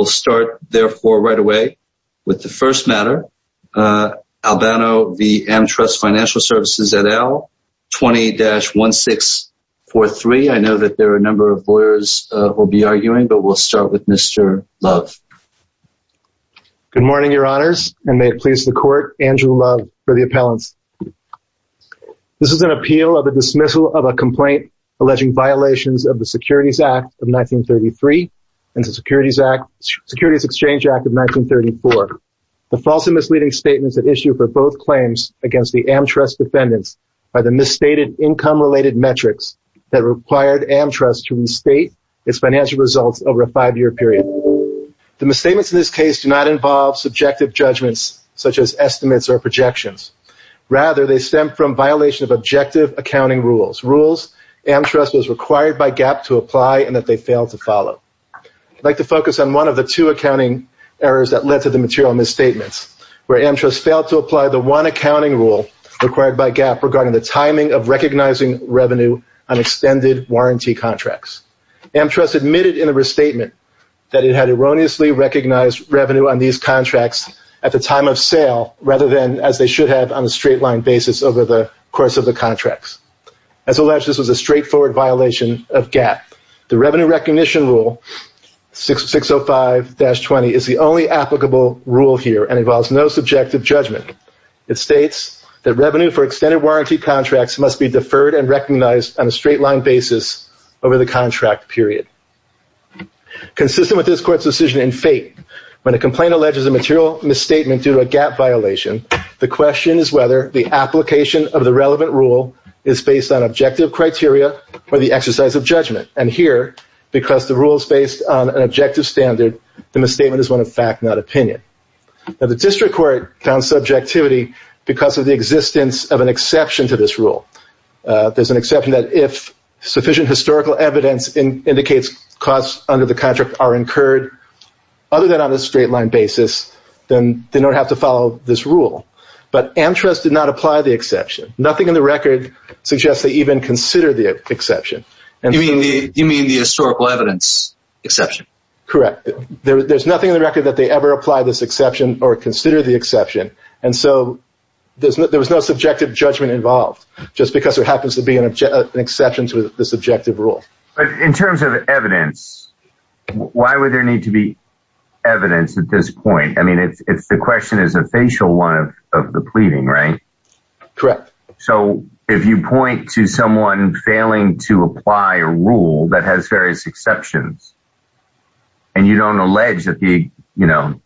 We'll start, therefore, right away with the first matter, Albano v. Amtrust Financial Services et al., 20-1643. I know that there are a number of lawyers who will be arguing, but we'll start with Mr. Love. Good morning, your honors, and may it please the court, Andrew Love for the appellants. This is an appeal of a dismissal of a complaint alleging violations of the Securities Act of 1933 and the Securities Exchange Act of 1934. The false and misleading statements that issue for both claims against the Amtrust defendants are the misstated income-related metrics that required Amtrust to restate its financial results over a five-year period. The misstatements in this case do not involve subjective judgments such as estimates or projections. Rather, they stem from violation of objective accounting rules, rules Amtrust was required by GAAP to apply and that they failed to follow. I'd like to focus on one of the two accounting errors that led to the material misstatements, where Amtrust failed to apply the one accounting rule required by GAAP regarding the timing of recognizing revenue on extended warranty contracts. Amtrust admitted in a restatement that it had erroneously recognized revenue on these contracts at the time of sale rather than as they should have on a straight-line basis over the course of the contracts. As alleged, this was a straightforward violation of GAAP. The revenue recognition rule, 605-20, is the only applicable rule here and involves no subjective judgment. It states that revenue for extended warranty contracts must be deferred and recognized on a straight-line basis over the contract period. Consistent with this court's decision in fate, when a complaint alleges a material misstatement due to a GAAP violation, the question is whether the application of the rule is based on objective criteria or the exercise of judgment. And here, because the rule is based on an objective standard, the misstatement is one of fact, not opinion. The district court found subjectivity because of the existence of an exception to this rule. There's an exception that if sufficient historical evidence indicates costs under the contract are incurred other than on a straight-line basis, then they don't have to follow this rule. But Amtrust did not apply the exception. Nothing in the record suggests they even consider the exception. You mean the historical evidence exception? Correct. There's nothing in the record that they ever apply this exception or consider the exception. And so there was no subjective judgment involved, just because there happens to be an exception to this objective rule. In terms of evidence, why would there need to be evidence at this point? I mean, if the question is a facial one of the pleading, right? Correct. So if you point to someone failing to apply a rule that has various exceptions, and you don't allege that the, you know,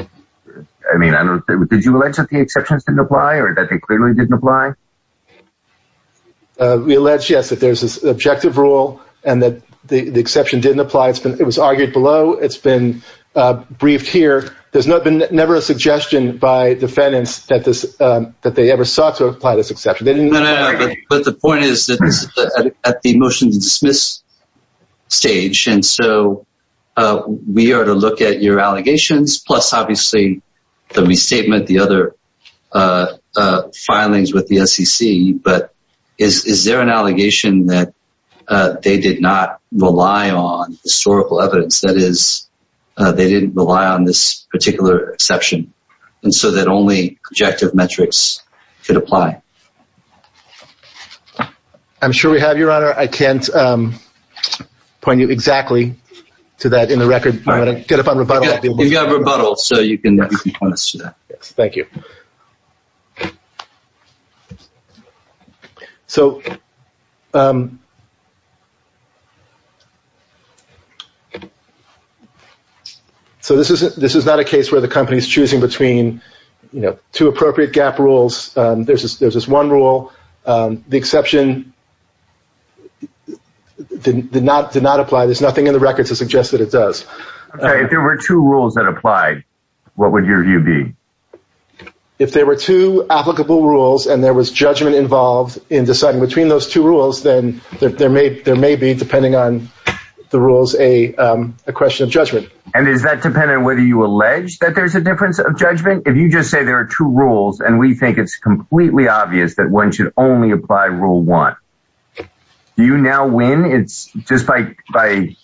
I mean, did you allege that the exceptions didn't apply or that they clearly didn't apply? We allege, yes, that there's this objective rule and that the exception didn't apply. It was argued below. It's been briefed here. There's never been never a suggestion by defendants that this that they ever sought to apply this exception. But the point is that at the motion to dismiss stage and so we are to look at your allegations plus obviously the restatement, the other filings with the SEC. But is there an allegation that they did not rely on historical evidence that is they didn't rely on this particular exception? And so that only objective metrics could apply? I'm sure we have, Your Honor. I can't point you exactly to that in the record, but I'm going to get up on rebuttal. You've got rebuttal, so you can point us to that. Thank you. So, so this is this is not a case where the company is choosing between two appropriate gap rules. There's this there's this one rule. The exception did not did not apply. There's nothing in the record to suggest that it does. If there were two rules that applied, what would your view be? If there were two applicable rules and there was judgment involved in deciding between those two rules, then there may there may be, depending on the rules, a question of judgment. And is that dependent on whether you allege that there's a difference of judgment? If you just say there are two rules and we think it's completely obvious that one should only apply rule one, do you now win? It's just like by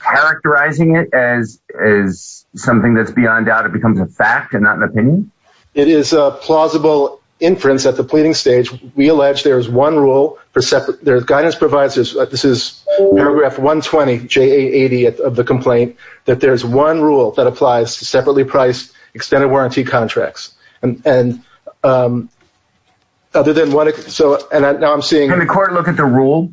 characterizing it as as something that's beyond doubt, it becomes a fact and not an opinion. It is a plausible inference at the pleading stage. We allege there is one rule for separate guidance providers. This is paragraph 120 J.A. 80 of the complaint that there is one rule that applies to separately priced extended warranty contracts. And other than what? So now I'm seeing the court look at the rule.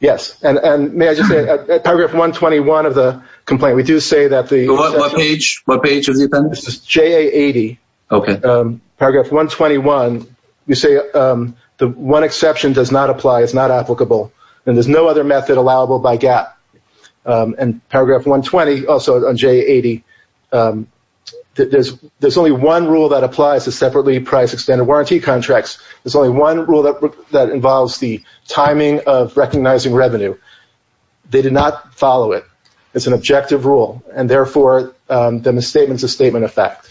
Yes. And may I just say paragraph 121 of the complaint, we do say that the page, what page is J.A. 80. OK. Paragraph 121. You say the one exception does not apply. It's not applicable. And there's no other method allowable by gap. And paragraph 120, also on J.A. 80, there's only one rule that applies to separately priced extended warranty contracts. There's only one rule that involves the timing of recognizing revenue. They did not follow it. It's an objective rule. And therefore, the misstatement is a statement of fact.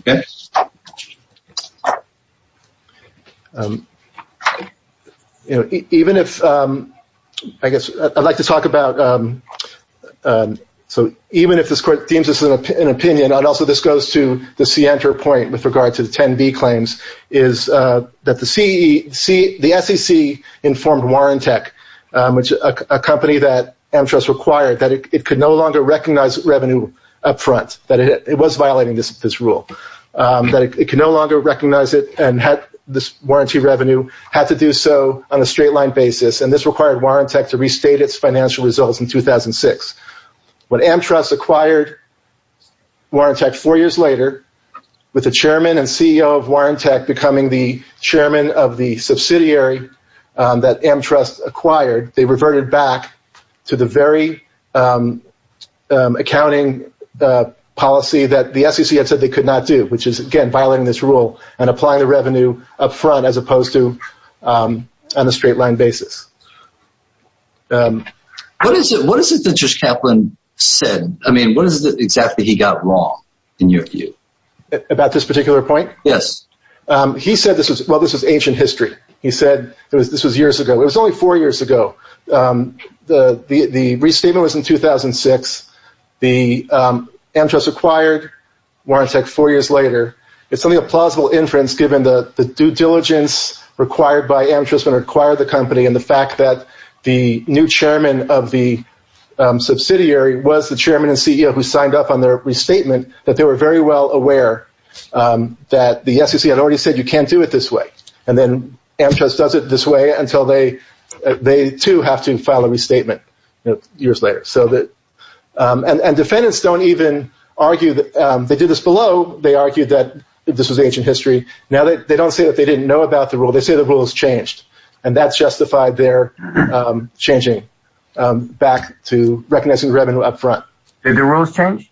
OK. You know, even if, I guess, I'd like to talk about, so even if this court deems this an opinion, and also this goes to the CNTR point with regard to the 10B claims, is that the SEC informed Warrantech, which is a company that Amtrust acquired, that it could no longer recognize revenue up front, that it was violating this rule, that it could no longer recognize it and had this warranty revenue, had to do so on a straight line basis. And this required Warrantech to restate its financial results in 2006. When Amtrust acquired Warrantech four years later, with the chairman and CEO of Warrantech becoming the chairman of the subsidiary that Amtrust acquired, they reverted back to the very accounting policy that the SEC had said they could not do, which is, again, violating this rule and applying the revenue up front as opposed to on a straight line basis. What is it that Judge Kaplan said? I mean, what is it exactly he got wrong, in your view? About this particular point? Yes. He said this was, well, this was ancient history. He said this was years ago. It was only four years ago. The restatement was in 2006. The Amtrust acquired Warrantech four years later. It's only a plausible inference, given the due diligence required by Amtrust when it acquired the company and the fact that the new chairman of the subsidiary was the chairman and CEO who signed up on their restatement, that they were very well aware that the SEC had already said you can't do it this way. And then Amtrust does it this way until they, too, have to file a restatement years later. So that, and defendants don't even argue that, they did this below. They argued that this was ancient history. Now, they don't say that they didn't know about the rule. They say the rule has changed. And that's justified their changing back to recognizing revenue up front. Did the rules change?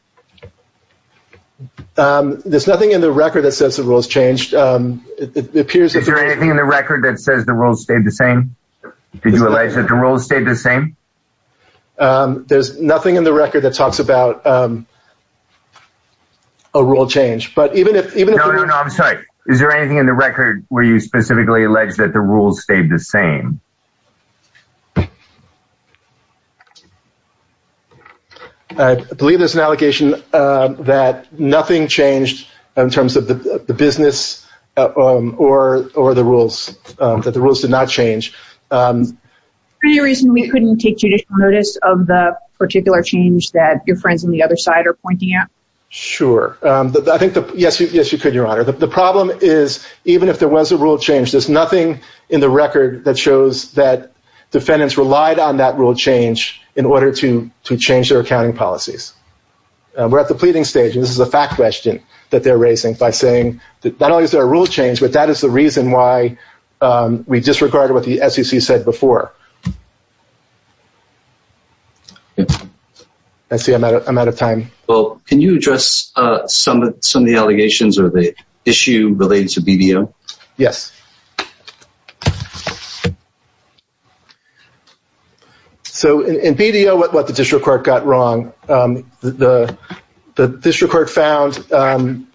There's nothing in the record that says the rule has changed. Is there anything in the record that says the rules stayed the same? Did you allege that the rules stayed the same? There's nothing in the record that talks about a rule change. But even if... No, no, no, I'm sorry. Is there anything in the record where you specifically allege that the rules stayed the same? I believe there's an allegation that nothing changed in terms of the business or the rules. That the rules did not change. Is there any reason we couldn't take judicial notice of the particular change that your friends on the other side are pointing out? Sure. I think, yes, you could, Your Honor. The problem is, even if there was a rule change, there's nothing in the record that shows that defendants relied on that rule change in order to change their accounting policies. We're at the pleading stage. And this is a fact question that they're raising by saying that not only is there a rule change, but that is the reason why we disregarded what the SEC said before. I see I'm out of time. Well, can you address some of the allegations or the issue related to BBO? Yes. So in BBO, what the district court got wrong, the district court found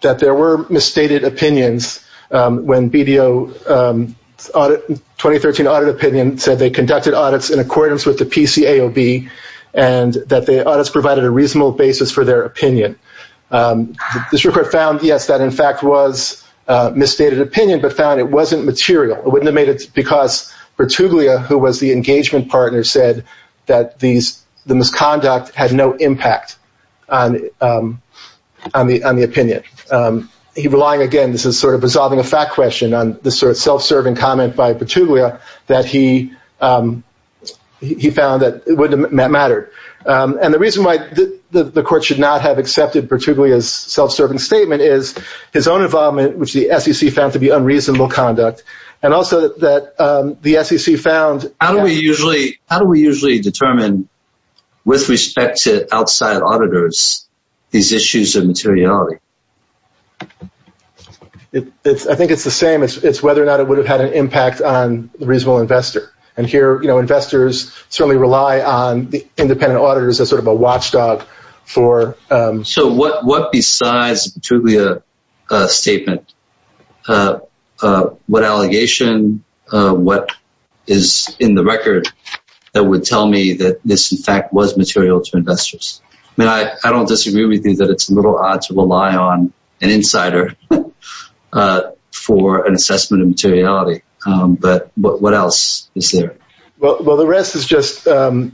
that there were misstated opinions when BBO 2013 audit opinion said they conducted audits in accordance with the PCAOB and that the audits provided a reasonable basis for their opinion. The district court found, yes, that in fact was misstated opinion, but found it wasn't material. It wouldn't have made it because Bertuglia, who was the engagement partner, said that the misconduct had no impact on the opinion. He relied, again, this is sort of resolving a fact question on this sort of self-serving comment by Bertuglia, that he found that it wouldn't have mattered. And the reason why the court should not have accepted Bertuglia's self-serving statement is his own involvement, which the SEC found to be unreasonable conduct, and also that the SEC found... How do we usually determine, with respect to outside auditors, these issues of materiality? I think it's the same. It's whether or not it would have had an impact on the reasonable investor. And here, investors certainly rely on the independent auditors as sort of a watchdog for... So what besides Bertuglia's statement, what allegation, what is in the record, that would tell me that this, in fact, was material to investors? I mean, I don't disagree with you that it's a little odd to rely on an insider for an assessment of materiality. But what else is there? Well, the rest is just the...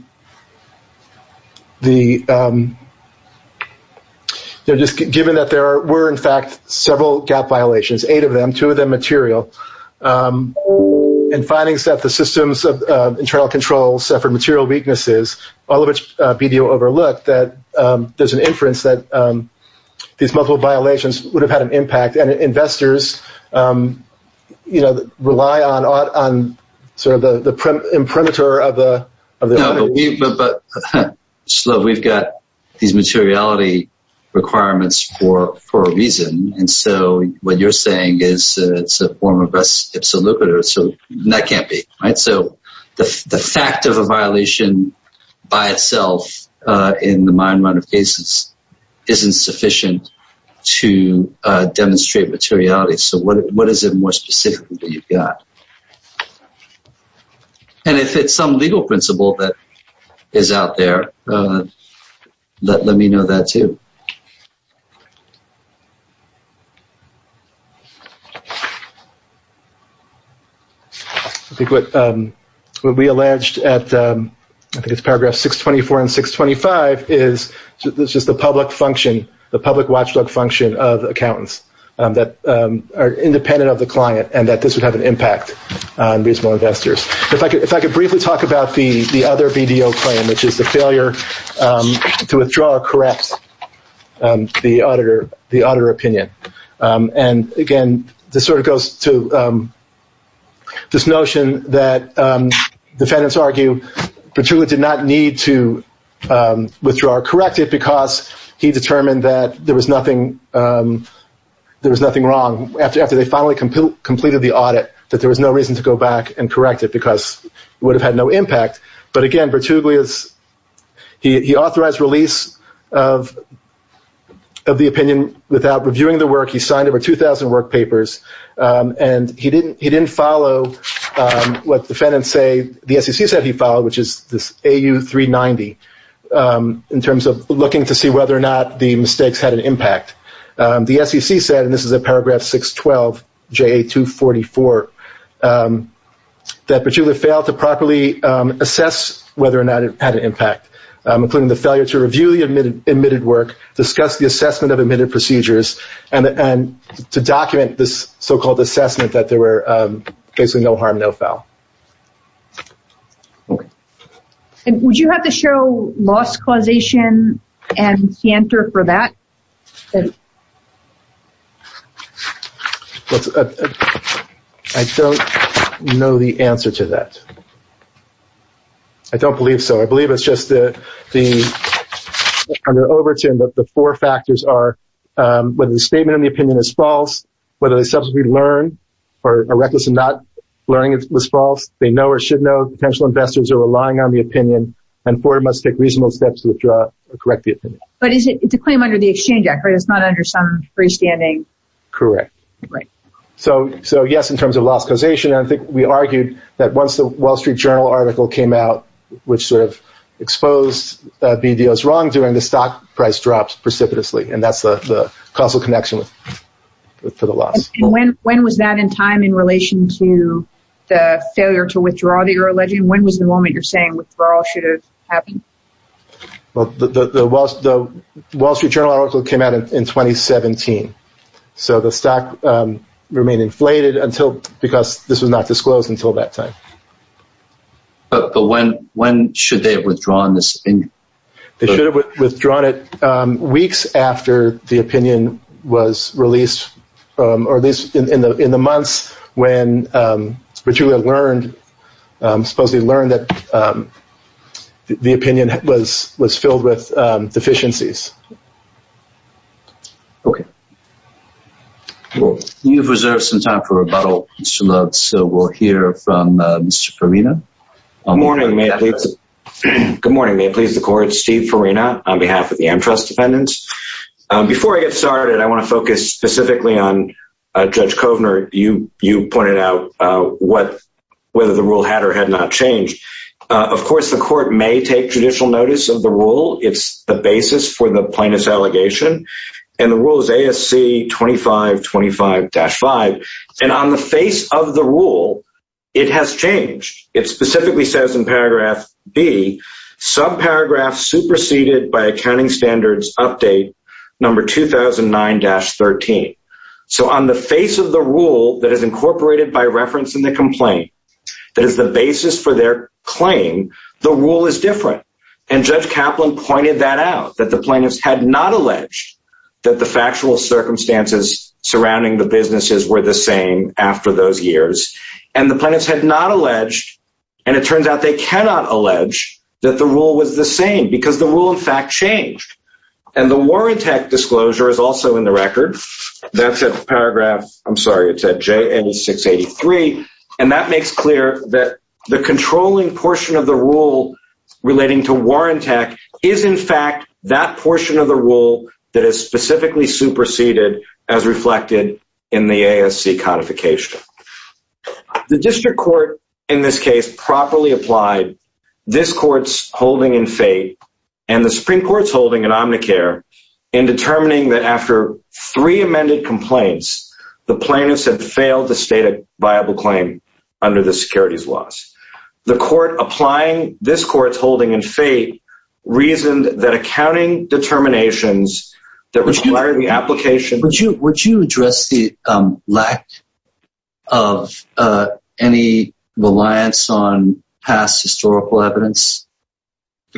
Just given that there were, in fact, several gap violations, eight of them, two of them material, and findings that the systems of internal control suffered material weaknesses, all of which BDO overlooked, that there's an inference that these multiple violations would have had an impact. And investors rely on sort of the imprimatur of the... No, but Slav, we've got these materiality requirements for a reason. And so what you're saying is it's a form of res ipsa lucratur, so that can't be, right? So the fact of a violation by itself, in the mine run of cases, isn't sufficient to demonstrate materiality. So what is it more specifically that you've got? And if it's some legal principle that is out there, let me know that, too. I think what we alleged at, I think it's paragraph 624 and 625, is this is the public function, the public watchdog function of accountants that are independent of the client, and that this would have an impact on reasonable investors. If I could briefly talk about the other BDO claim, which is the failure to withdraw or correct the auditor opinion. And again, this sort of goes to this notion that defendants argue Petrula did not need to withdraw or correct it because he determined that there was nothing wrong after they finally completed the audit, that there was no reason to go back and correct it because it would have had no impact. But again, he authorized release of the opinion without reviewing the work. He signed over 2,000 work papers, and he didn't follow what defendants say, the SEC said he followed, which is this AU 390, in terms of looking to see whether or not the mistakes had an impact. The SEC said, and this is at paragraph 612, JA 244, that Petrula failed to properly assess whether or not it had an impact, including the failure to review the admitted work, discuss the assessment of admitted procedures, and to document this so-called assessment that there were basically no harm, no foul. And would you have to show loss causation and cantor for that? I don't know the answer to that. I don't believe so. I believe it's just the under Overton, but the four factors are whether the statement of the opinion is false, whether they subsequently learned or are reckless in not learning, whether it was false, they know or should know, potential investors are relying on the opinion, and Ford must take reasonable steps to correct the opinion. But it's a claim under the Exchange Act, right? It's not under some freestanding? Correct. So yes, in terms of loss causation, I think we argued that once the Wall Street Journal article came out, which sort of exposed BDO's wrongdoing, the stock price dropped precipitously, and that's the causal connection to the loss. And when was that in time in relation to the failure to withdraw the euro legend? When was the moment you're saying withdrawal should have happened? Well, the Wall Street Journal article came out in 2017, so the stock remained inflated because this was not disclosed until that time. But when should they have withdrawn this opinion? They should have withdrawn it weeks after the opinion was released, or at least in the months when Virginia learned, supposedly learned that the opinion was filled with deficiencies. Okay. Well, you've reserved some time for rebuttal, Mr. Lutz, so we'll hear from Mr. Perino. Good morning. May it please the court, Steve Perino on behalf of the AmTrust dependents. Before I get started, I want to focus specifically on Judge Kovner. You pointed out whether the rule had or had not changed. Of course, the court may take judicial notice of the rule. It's the basis for the plaintiff's allegation. And the rule is ASC 2525-5. And on the face of the rule, it has changed. It specifically says in paragraph B, subparagraph superseded by accounting standards update number 2009-13. So on the face of the rule that is incorporated by reference in the complaint, that is the basis for their claim, the rule is different. And Judge Kaplan pointed that out, that the plaintiffs had not alleged that the factual circumstances surrounding the businesses were the same after those years. And the plaintiffs had not alleged, and it turns out they cannot allege, that the rule was the same because the rule, in fact, changed. And the Warrant Act disclosure is also in the record. That's at paragraph, I'm sorry, it's at J8683. And that makes clear that the controlling portion of the rule relating to Warrant Act is, in fact, that portion of the rule that is specifically superseded as reflected in the ASC codification. The district court, in this case, properly applied this court's holding in FATE and the Supreme Court's holding in Omnicare in determining that after three amended complaints, the plaintiffs had failed to state a viable claim under the securities laws. The court applying this court's holding in FATE reasoned that accounting determinations that require the application... Would you address the lack of any reliance on past historical evidence?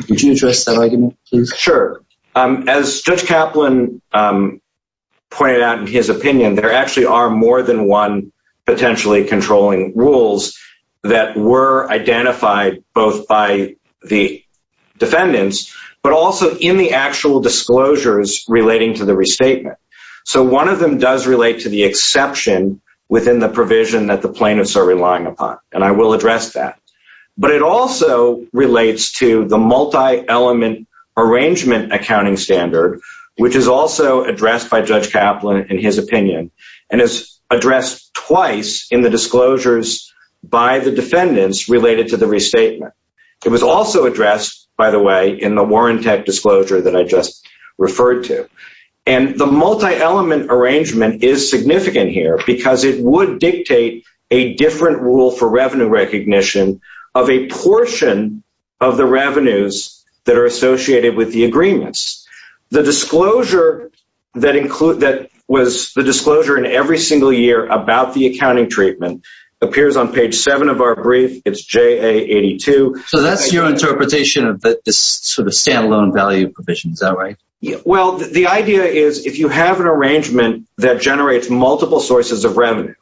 Would you address that argument, please? Sure. As Judge Kaplan pointed out in his opinion, there actually are more than one potentially controlling rules that were identified both by the defendants, but also in the actual disclosures relating to the restatement. So one of them does relate to the exception within the provision that the plaintiffs are relying upon, and I will address that. But it also relates to the multi-element arrangement accounting standard, which is also addressed by Judge Kaplan in his opinion. And it's addressed twice in the disclosures by the defendants related to the restatement. It was also addressed, by the way, in the Warrant Act disclosure that I just referred to. And the multi-element arrangement is significant here because it would dictate a different rule for revenue recognition of a portion of the revenues that are associated with the agreements. The disclosure that was the disclosure in every single year about the accounting treatment appears on page 7 of our brief. It's JA82. So that's your interpretation of this sort of standalone value provision. Is that right? Well, the idea is if you have an arrangement that generates multiple sources of revenue,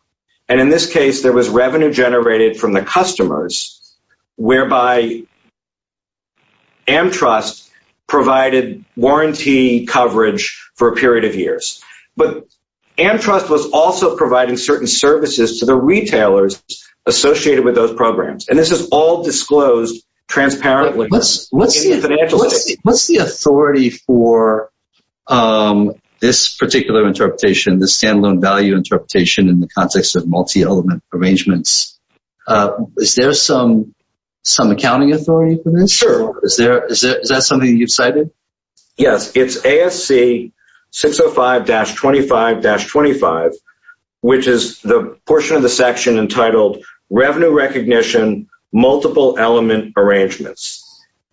and in this case, there was revenue generated from the customers, whereby AmTrust provided warranty coverage for a period of years. But AmTrust was also providing certain services to the retailers associated with those programs, and this is all disclosed transparently. What's the authority for this particular interpretation, this standalone value interpretation in the context of multi-element arrangements? Is there some accounting authority for this? Sure. Is that something you've cited? Yes, it's ASC 605-25-25, which is the portion of the section entitled Revenue Recognition Multiple Element Arrangements.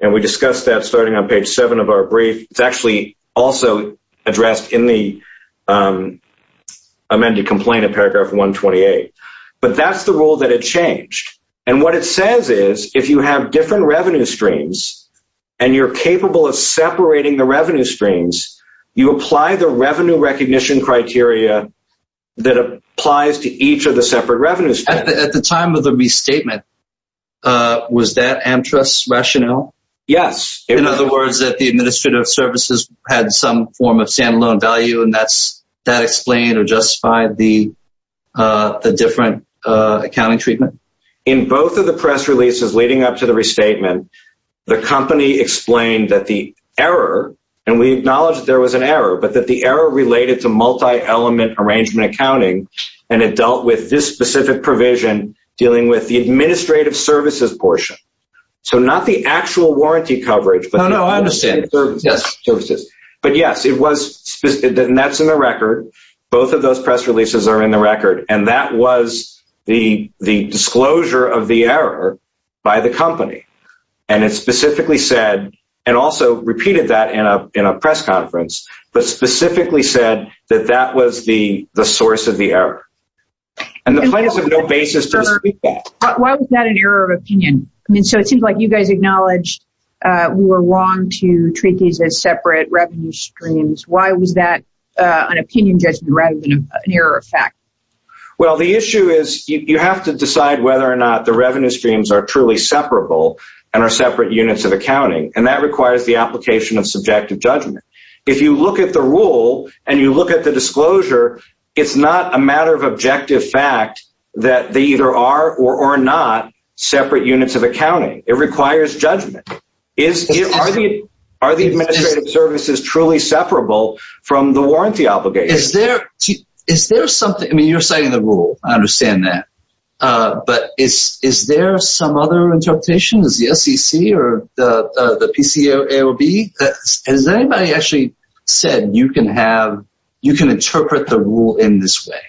And we discussed that starting on page 7 of our brief. It's actually also addressed in the amended complaint in paragraph 128. But that's the rule that had changed. And what it says is if you have different revenue streams and you're capable of separating the revenue streams, you apply the revenue recognition criteria that applies to each of the separate revenue streams. At the time of the restatement, was that AmTrust's rationale? Yes. In other words, that the administrative services had some form of standalone value, and that explained or justified the different accounting treatment? In both of the press releases leading up to the restatement, the company explained that the error, and we acknowledge that there was an error, but that the error related to multi-element arrangement accounting. And it dealt with this specific provision dealing with the administrative services portion. So not the actual warranty coverage. No, no, I understand. But yes, it was, and that's in the record. Both of those press releases are in the record. And that was the disclosure of the error by the company. And it specifically said, and also repeated that in a press conference, but specifically said that that was the source of the error. And the plaintiffs have no basis to speak to that. Why was that an error of opinion? I mean, so it seems like you guys acknowledged we were wrong to treat these as separate revenue streams. Why was that an opinion judgment rather than an error of fact? Well, the issue is you have to decide whether or not the revenue streams are truly separable and are separate units of accounting. And that requires the application of subjective judgment. If you look at the rule and you look at the disclosure, it's not a matter of objective fact that they either are or are not separate units of accounting. It requires judgment. Are the administrative services truly separable from the warranty obligation? Is there something – I mean, you're citing the rule. I understand that. But is there some other interpretation? Is the SEC or the PCAOB? Has anybody actually said you can have – you can interpret the rule in this way?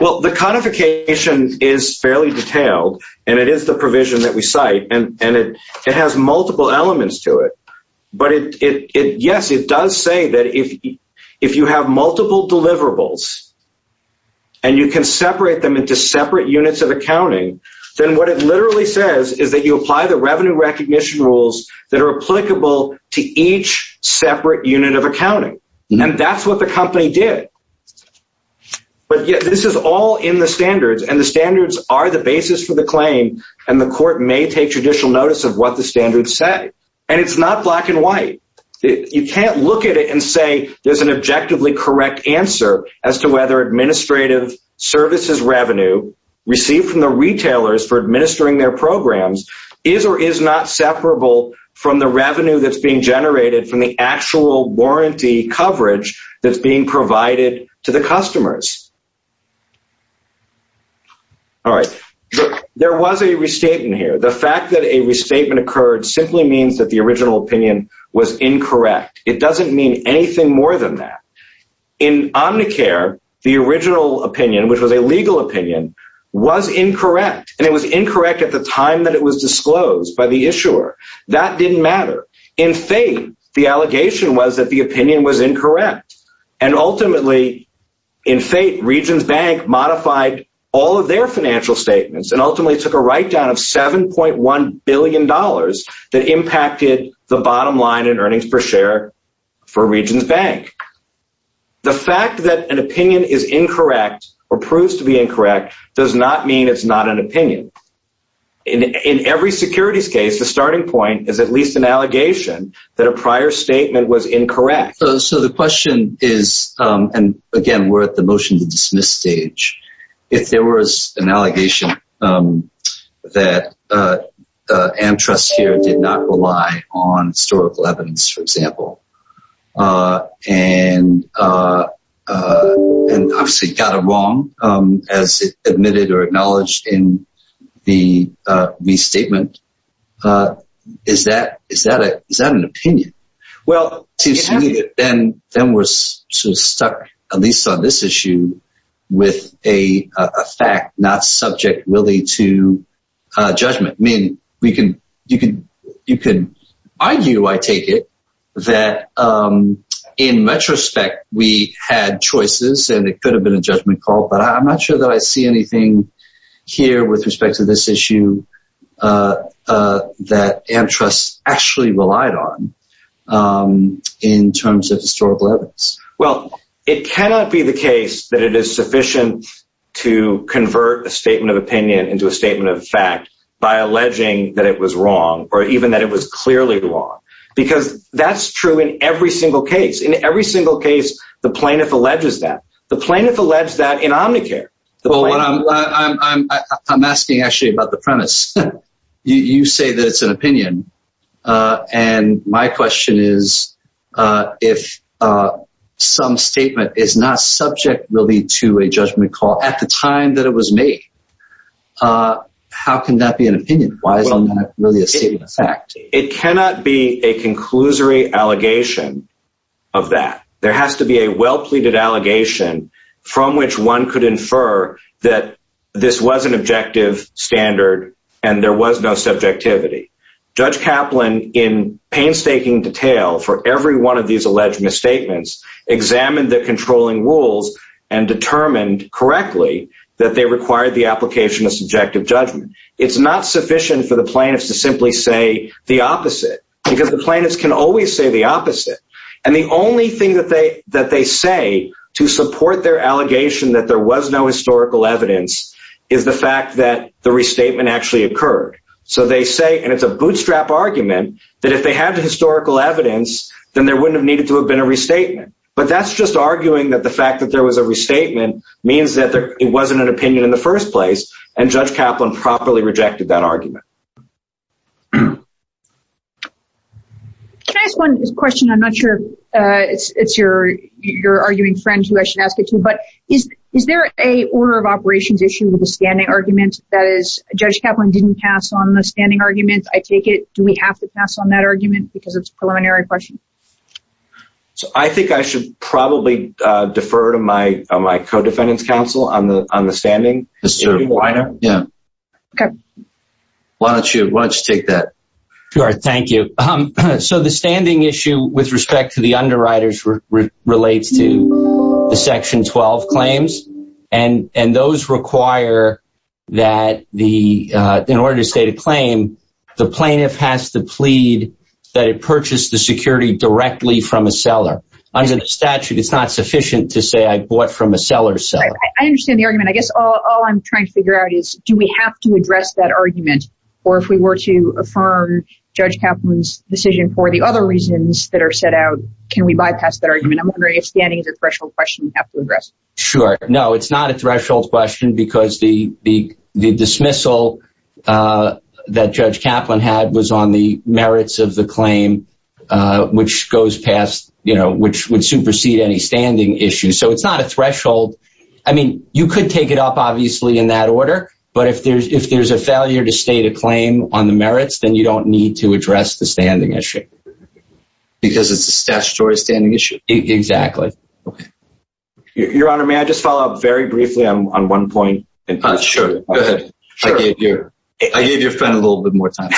Well, the codification is fairly detailed, and it is the provision that we cite, and it has multiple elements to it. But, yes, it does say that if you have multiple deliverables and you can separate them into separate units of accounting, then what it literally says is that you apply the revenue recognition rules that are applicable to each separate unit of accounting. And that's what the company did. But, yes, this is all in the standards, and the standards are the basis for the claim, and the court may take judicial notice of what the standards say. And it's not black and white. You can't look at it and say there's an objectively correct answer as to whether administrative services revenue received from the retailers for administering their programs is or is not separable from the revenue that's being generated from the actual warranty coverage that's being provided to the customers. All right. There was a restatement here. The fact that a restatement occurred simply means that the original opinion was incorrect. It doesn't mean anything more than that. In Omnicare, the original opinion, which was a legal opinion, was incorrect, and it was incorrect at the time that it was disclosed by the issuer. That didn't matter. In FATE, the allegation was that the opinion was incorrect. And ultimately, in FATE, Regions Bank modified all of their financial statements and ultimately took a write-down of $7.1 billion that impacted the bottom line in earnings per share for Regions Bank. The fact that an opinion is incorrect or proves to be incorrect does not mean it's not an opinion. In every securities case, the starting point is at least an allegation that a prior statement was incorrect. So the question is, and again, we're at the motion to dismiss stage. If there was an allegation that AmTrust here did not rely on historical evidence, for example, and obviously got it wrong as admitted or acknowledged in the restatement, is that an opinion? Well, then we're stuck, at least on this issue, with a fact not subject really to judgment. You can argue, I take it, that in retrospect, we had choices and it could have been a judgment call, but I'm not sure that I see anything here with respect to this issue that AmTrust actually relied on in terms of historical evidence. Well, it cannot be the case that it is sufficient to convert a statement of opinion into a statement of fact by alleging that it was wrong or even that it was clearly wrong, because that's true in every single case. In every single case, the plaintiff alleges that. The plaintiff alleged that in Omnicare. I'm asking actually about the premise. You say that it's an opinion, and my question is, if some statement is not subject really to a judgment call at the time that it was made, how can that be an opinion? Why isn't that really a statement of fact? It cannot be a conclusory allegation of that. There has to be a well-pleaded allegation from which one could infer that this was an objective standard and there was no subjectivity. Judge Kaplan, in painstaking detail for every one of these alleged misstatements, examined the controlling rules and determined correctly that they required the application of subjective judgment. It's not sufficient for the plaintiffs to simply say the opposite, because the plaintiffs can always say the opposite. And the only thing that they say to support their allegation that there was no historical evidence is the fact that the restatement actually occurred. So they say, and it's a bootstrap argument, that if they had the historical evidence, then there wouldn't have needed to have been a restatement. But that's just arguing that the fact that there was a restatement means that it wasn't an opinion in the first place, and Judge Kaplan properly rejected that argument. Can I ask one question? I'm not sure if it's your arguing friend who I should ask it to, but is there an order of operations issue with the standing argument? That is, Judge Kaplan didn't pass on the standing argument. I take it, do we have to pass on that argument because it's a preliminary question? I think I should probably defer to my co-defendants counsel on the standing. Why don't you take that? Sure, thank you. So the standing issue with respect to the underwriters relates to the Section 12 claims, and those require that in order to state a claim, the plaintiff has to plead that it purchased the security directly from a seller. Under the statute, it's not sufficient to say I bought from a seller's seller. I understand the argument. I guess all I'm trying to figure out is, do we have to address that argument? Or if we were to affirm Judge Kaplan's decision for the other reasons that are set out, can we bypass that argument? I'm wondering if standing is a threshold question we have to address. Sure. No, it's not a threshold question because the dismissal that Judge Kaplan had was on the merits of the claim, which would supersede any standing issue. So it's not a threshold. I mean, you could take it up, obviously, in that order, but if there's a failure to state a claim on the merits, then you don't need to address the standing issue. Because it's a statutory standing issue? Exactly. Your Honor, may I just follow up very briefly on one point? Sure, go ahead. I gave your friend a little bit more time.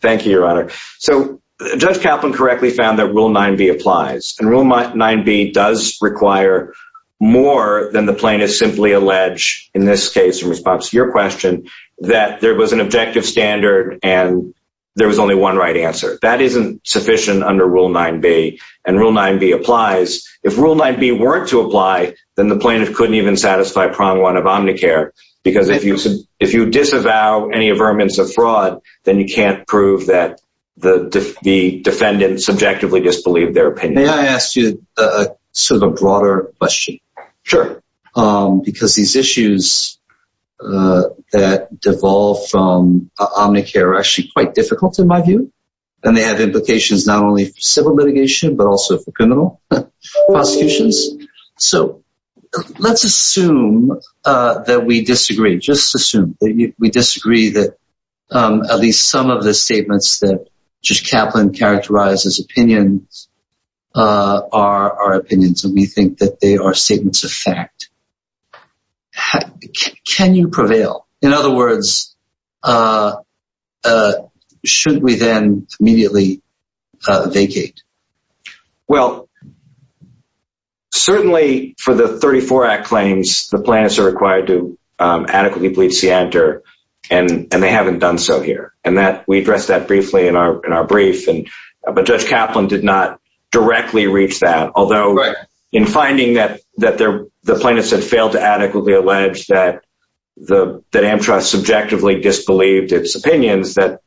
Thank you, Your Honor. So Judge Kaplan correctly found that Rule 9b applies. And Rule 9b does require more than the plaintiff simply alleged, in this case in response to your question, that there was an objective standard and there was only one right answer. That isn't sufficient under Rule 9b. And Rule 9b applies. If Rule 9b weren't to apply, then the plaintiff couldn't even satisfy Prong 1 of Omnicare. Because if you disavow any averments of fraud, then you can't prove that the defendant subjectively disbelieved their opinion. May I ask you sort of a broader question? Sure. Because these issues that devolve from Omnicare are actually quite difficult in my view. And they have implications not only for civil litigation, but also for criminal prosecutions. So let's assume that we disagree. Just assume that we disagree that at least some of the statements that Judge Kaplan characterized as opinions are opinions. And we think that they are statements of fact. Can you prevail? In other words, should we then immediately vacate? Well, certainly for the 34 Act claims, the plaintiffs are required to adequately plead scienter, and they haven't done so here. And we addressed that briefly in our brief. But Judge Kaplan did not directly reach that. Although in finding that the plaintiffs had failed to adequately allege that Amtrak subjectively disbelieved its opinions, that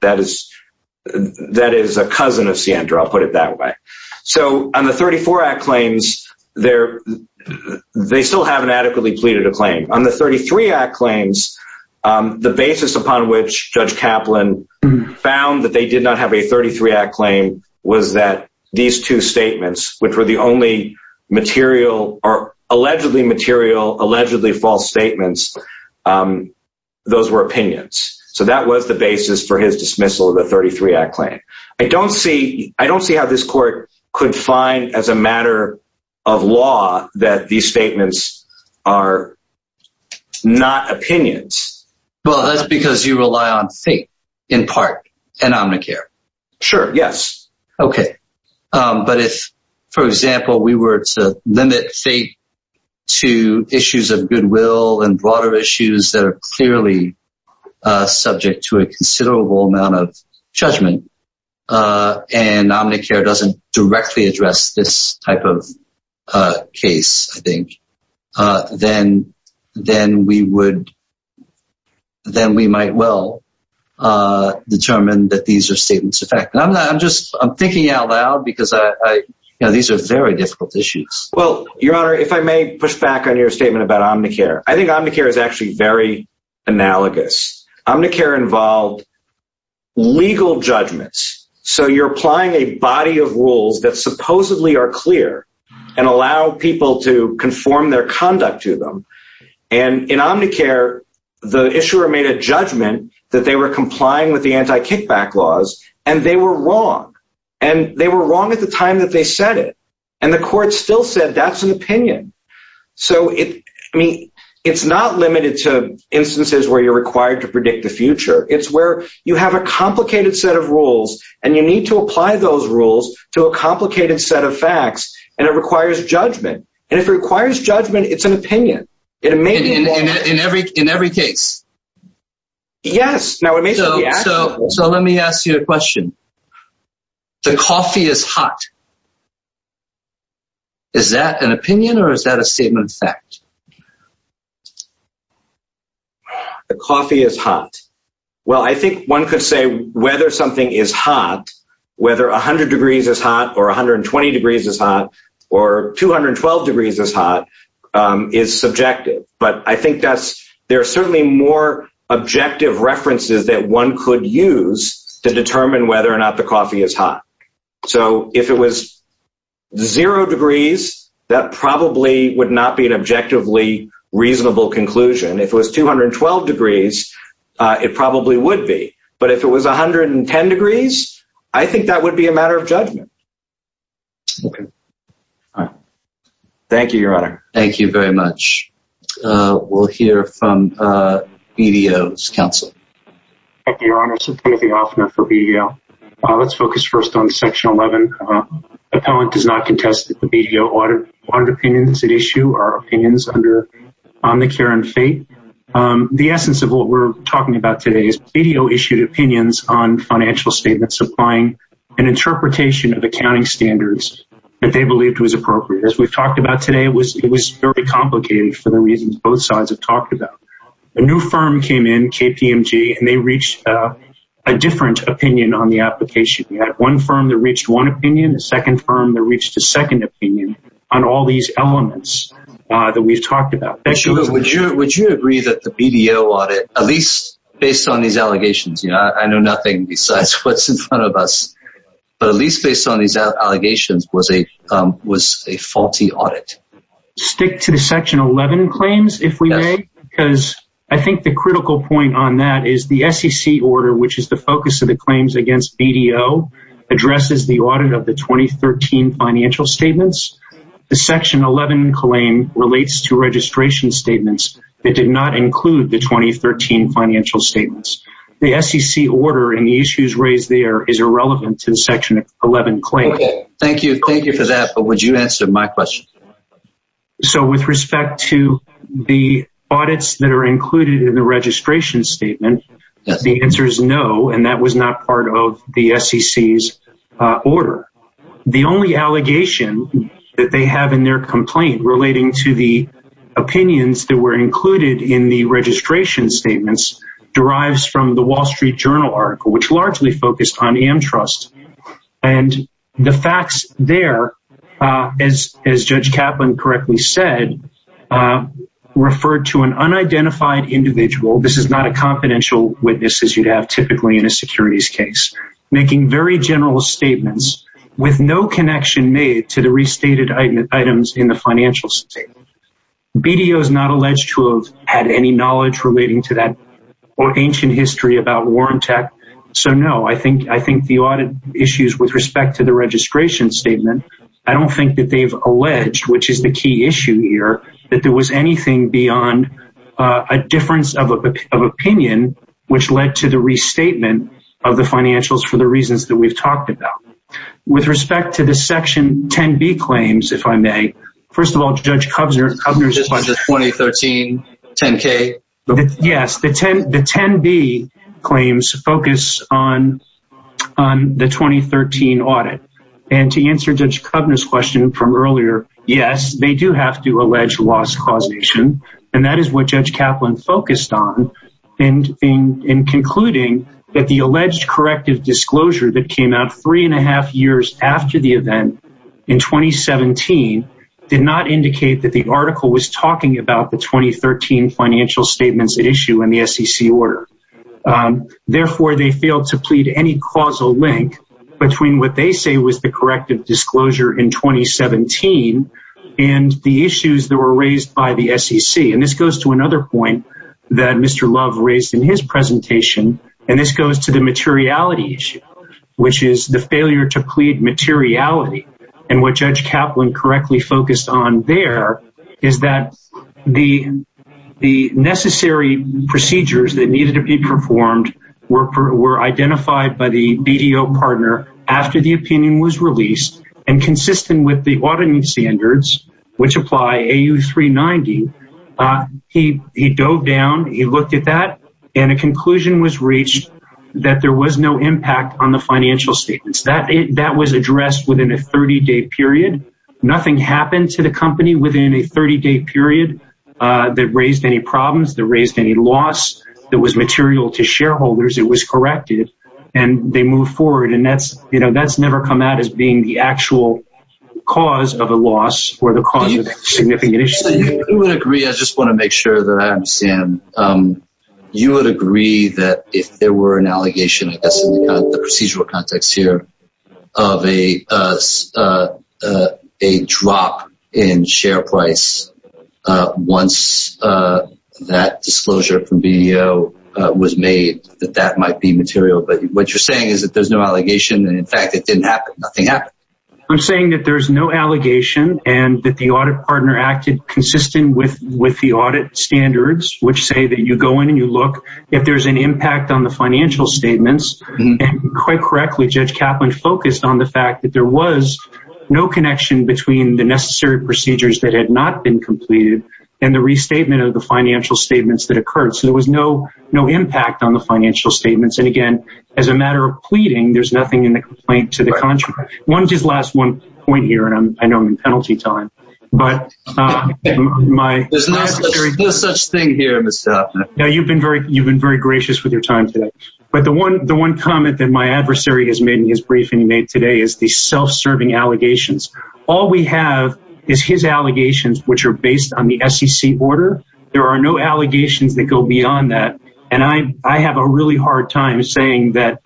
is a cousin of scienter. I'll put it that way. So on the 34 Act claims, they still haven't adequately pleaded a claim. On the 33 Act claims, the basis upon which Judge Kaplan found that they did not have a 33 Act claim was that these two statements, which were the only material or allegedly material, allegedly false statements, those were opinions. So that was the basis for his dismissal of the 33 Act claim. I don't see how this court could find as a matter of law that these statements are not opinions. Well, that's because you rely on fate, in part, and Omnicare. Sure, yes. Okay. But if, for example, we were to limit fate to issues of goodwill and broader issues that are clearly subject to a considerable amount of judgment, and Omnicare doesn't directly address this type of case, I think, then we might well determine that these are statements of fact. I'm thinking out loud because these are very difficult issues. Well, Your Honor, if I may push back on your statement about Omnicare, I think Omnicare is actually very analogous. Omnicare involved legal judgments. So you're applying a body of rules that supposedly are clear and allow people to conform their conduct to them. And in Omnicare, the issuer made a judgment that they were complying with the anti-kickback laws, and they were wrong. And they were wrong at the time that they said it. And the court still said that's an opinion. So, I mean, it's not limited to instances where you're required to predict the future. It's where you have a complicated set of rules, and you need to apply those rules to a complicated set of facts, and it requires judgment. And if it requires judgment, it's an opinion. In every case. Yes. So let me ask you a question. The coffee is hot. Is that an opinion, or is that a statement of fact? The coffee is hot. Well, I think one could say whether something is hot, whether 100 degrees is hot, or 120 degrees is hot, or 212 degrees is hot, is subjective. But I think there are certainly more objective references that one could use to determine whether or not the coffee is hot. So if it was zero degrees, that probably would not be an objectively reasonable conclusion. If it was 212 degrees, it probably would be. But if it was 110 degrees, I think that would be a matter of judgment. Okay. All right. Thank you, Your Honor. Thank you very much. We'll hear from BDO's counsel. Thank you, Your Honor. Timothy Hoffner for BDO. Let's focus first on Section 11. Appellant does not contest the BDO audit opinions at issue or opinions on the care and fate. The essence of what we're talking about today is BDO issued opinions on financial statements supplying an interpretation of accounting standards that they believed was appropriate. As we've talked about today, it was very complicated for the reasons both sides have talked about. A new firm came in, KPMG, and they reached a different opinion on the application. We had one firm that reached one opinion, a second firm that reached a second opinion on all these elements that we've talked about. Would you agree that the BDO audit, at least based on these allegations, I know nothing besides what's in front of us, but at least based on these allegations, was a faulty audit? Stick to the Section 11 claims, if we may, because I think the critical point on that is the SEC order, which is the focus of the claims against BDO, addresses the audit of the 2013 financial statements. The Section 11 claim relates to registration statements that did not include the 2013 financial statements. The SEC order and the issues raised there is irrelevant to the Section 11 claim. Thank you for that, but would you answer my question? With respect to the audits that are included in the registration statement, the answer is no, and that was not part of the SEC's order. The only allegation that they have in their complaint relating to the opinions that were included in the registration statements derives from the Wall Street Journal article, which largely focused on AmTrust. The facts there, as Judge Kaplan correctly said, referred to an unidentified individual—this is not a confidential witness as you'd have typically in a securities case—making very general statements with no connection made to the restated items in the financial statement. BDO is not alleged to have had any knowledge relating to that or ancient history about Warrant Act, so no, I think the audit issues with respect to the registration statement, I don't think that they've alleged, which is the key issue here, that there was anything beyond a difference of opinion, which led to the restatement of the financials for the reasons that we've talked about. With respect to the Section 10b claims, if I may, first of all, Judge Kovner's— The 2013 10k? Yes, the 10b claims focus on the 2013 audit, and to answer Judge Kovner's question from earlier, yes, they do have to allege loss causation, and that is what Judge Kaplan focused on in concluding that the alleged corrective disclosure that came out three and a half years after the event in 2017 did not indicate that the article was talking about the 2013 financial statement. Therefore, they failed to plead any causal link between what they say was the corrective disclosure in 2017 and the issues that were raised by the SEC, and this goes to another point that Mr. Love raised in his presentation, and this goes to the materiality issue, which is the failure to plead materiality. And what Judge Kaplan correctly focused on there is that the necessary procedures that needed to be performed were identified by the BDO partner after the opinion was released, and consistent with the auditing standards, which apply AU390, he dove down, he looked at that, and a conclusion was reached that there was no impact on the financial statements. That was addressed within a 30-day period. Nothing happened to the company within a 30-day period that raised any problems, that raised any loss that was material to shareholders. It was corrected, and they moved forward, and that's never come out as being the actual cause of a loss or the cause of a significant issue. I just want to make sure that I understand. You would agree that if there were an allegation, I guess, in the procedural context here of a drop in share price once that disclosure from BDO was made, that that might be material, but what you're saying is that there's no allegation, and in fact, it didn't happen. Nothing happened. I'm saying that there's no allegation, and that the audit partner acted consistent with the audit standards, which say that you go in and you look. If there's an impact on the financial statements, and quite correctly, Judge Kaplan focused on the fact that there was no connection between the necessary procedures that had not been completed and the restatement of the financial statements that occurred, so there was no impact on the financial statements. And again, as a matter of pleading, there's nothing in the complaint to the contrary. One just last one point here, and I know I'm in penalty time, but my… There's no such thing here, Mr. Hoffman. You've been very gracious with your time today, but the one comment that my adversary has made in his briefing he made today is the self-serving allegations. All we have is his allegations, which are based on the SEC order. There are no allegations that go beyond that, and I have a really hard time saying that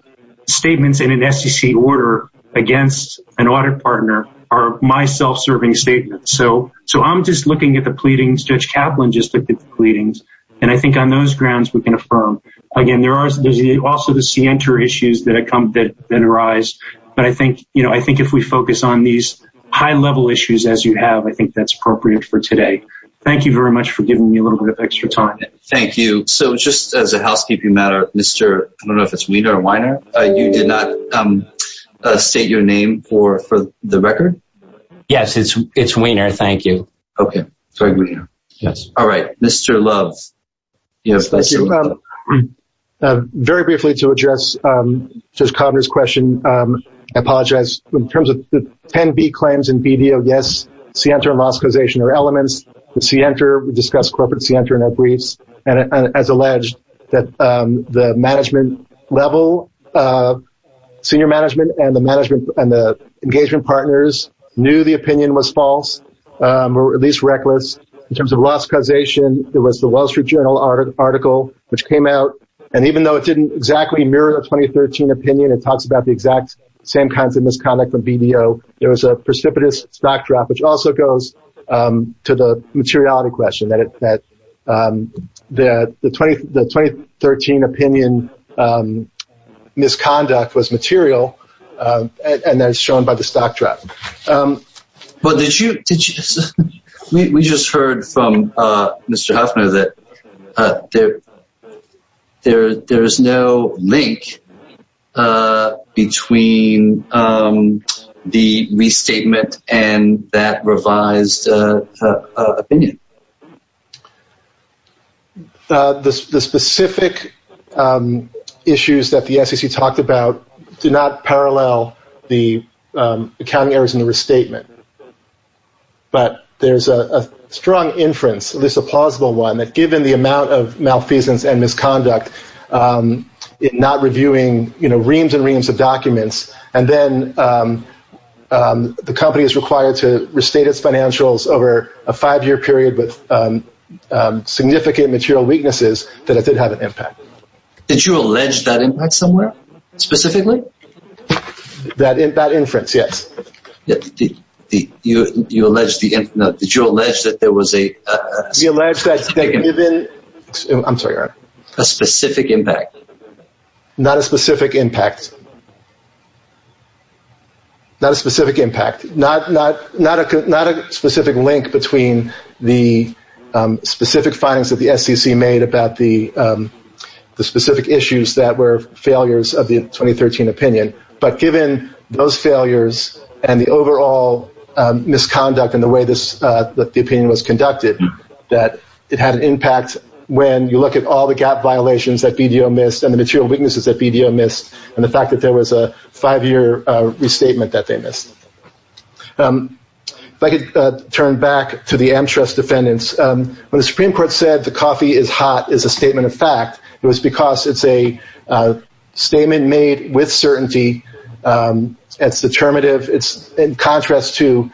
statements in an SEC order against an audit partner are my self-serving statements. So I'm just looking at the pleadings. Judge Kaplan just looked at the pleadings, and I think on those grounds, we can affirm. Again, there are also the scienter issues that arise, but I think if we focus on these high-level issues as you have, I think that's appropriate for today. Thank you very much for giving me a little bit of extra time. Thank you. So just as a housekeeping matter, Mr. I don't know if it's Wiener or Weiner, you did not state your name for the record? Yes, it's Wiener. Thank you. Okay. Sorry, Wiener. Yes. All right. Mr. Love. Yes, thank you. Very briefly to address Judge Kovner's question, I apologize. In terms of the 10B claims in BDO, yes, scienter and loss causation are elements. The scienter, we discussed corporate scienter in our briefs. And as alleged, the management level, senior management and the engagement partners knew the opinion was false or at least reckless. In terms of loss causation, it was the Wall Street Journal article which came out, and even though it didn't exactly mirror the 2013 opinion, it talks about the exact same kinds of misconduct from BDO, there was a precipitous stock drop, which also goes to the materiality question, that the 2013 opinion misconduct was material, and that is shown by the stock drop. We just heard from Mr. Hoffman that there is no link between the restatement and that revised opinion. The specific issues that the SEC talked about do not parallel the accounting errors in the restatement, but there's a strong inference, at least a plausible one, that given the amount of malfeasance and misconduct, not reviewing reams and reams of documents, and then the company is required to restate its financials over a five-year period with significant material weaknesses, that it did have an impact. Did you allege that impact somewhere specifically? That inference, yes. Did you allege that there was a specific impact? Not a specific impact. Not a specific link between the specific findings that the SEC made about the specific issues that were failures of the 2013 opinion, but given those failures and the overall misconduct in the way that the opinion was conducted, that it had an impact when you look at all the gap violations that BDO missed, and the material weaknesses that BDO missed, and the fact that there was a five-year restatement that they missed. If I could turn back to the AmTrust defendants. When the Supreme Court said the coffee is hot is a statement of fact, it was because it's a statement made with certainty. It's determinative. It's in contrast to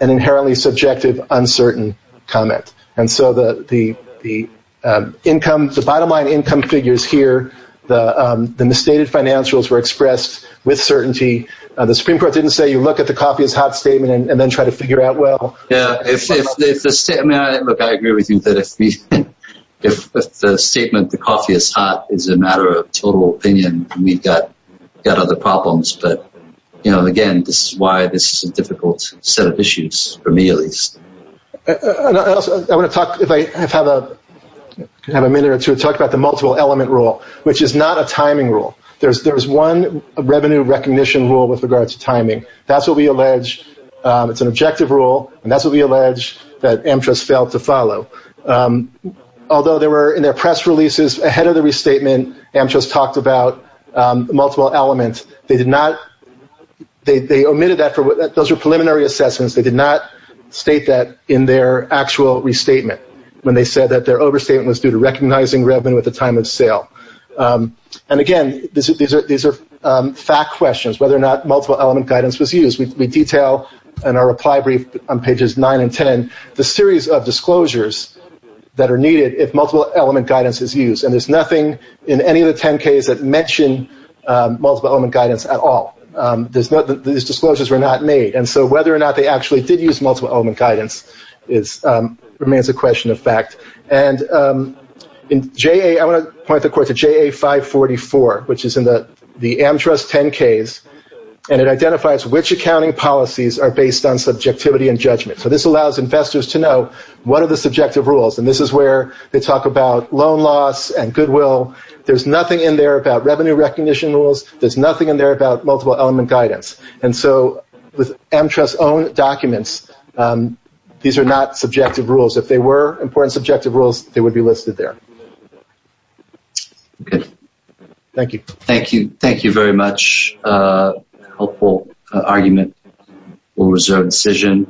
an inherently subjective, uncertain comment. And so the bottom-line income figures here, the misstated financials were expressed with certainty. The Supreme Court didn't say you look at the coffee is hot statement and then try to figure out well. Yeah. Look, I agree with you that if the statement the coffee is hot is a matter of total opinion, we've got other problems. But, you know, again, this is why this is a difficult set of issues for me at least. I want to talk, if I have a minute or two, talk about the multiple element rule, which is not a timing rule. There's one revenue recognition rule with regard to timing. That's what we allege. It's an objective rule, and that's what we allege that AmTrust failed to follow. Although there were, in their press releases ahead of the restatement, AmTrust talked about multiple elements. They omitted that. Those were preliminary assessments. They did not state that in their actual restatement when they said that their overstatement was due to recognizing revenue at the time of sale. And, again, these are fact questions, whether or not multiple element guidance was used. We detail in our reply brief on pages 9 and 10 the series of disclosures that are needed if multiple element guidance is used. And there's nothing in any of the 10 cases that mention multiple element guidance at all. These disclosures were not made. And so whether or not they actually did use multiple element guidance remains a question of fact. And I want to point the court to JA 544, which is in the AmTrust 10 case, and it identifies which accounting policies are based on subjectivity and judgment. So this allows investors to know what are the subjective rules. And this is where they talk about loan loss and goodwill. There's nothing in there about revenue recognition rules. There's nothing in there about multiple element guidance. And so with AmTrust's own documents, these are not subjective rules. If they were important subjective rules, they would be listed there. Okay. Thank you. Thank you. Thank you very much. Helpful argument. We'll reserve decision.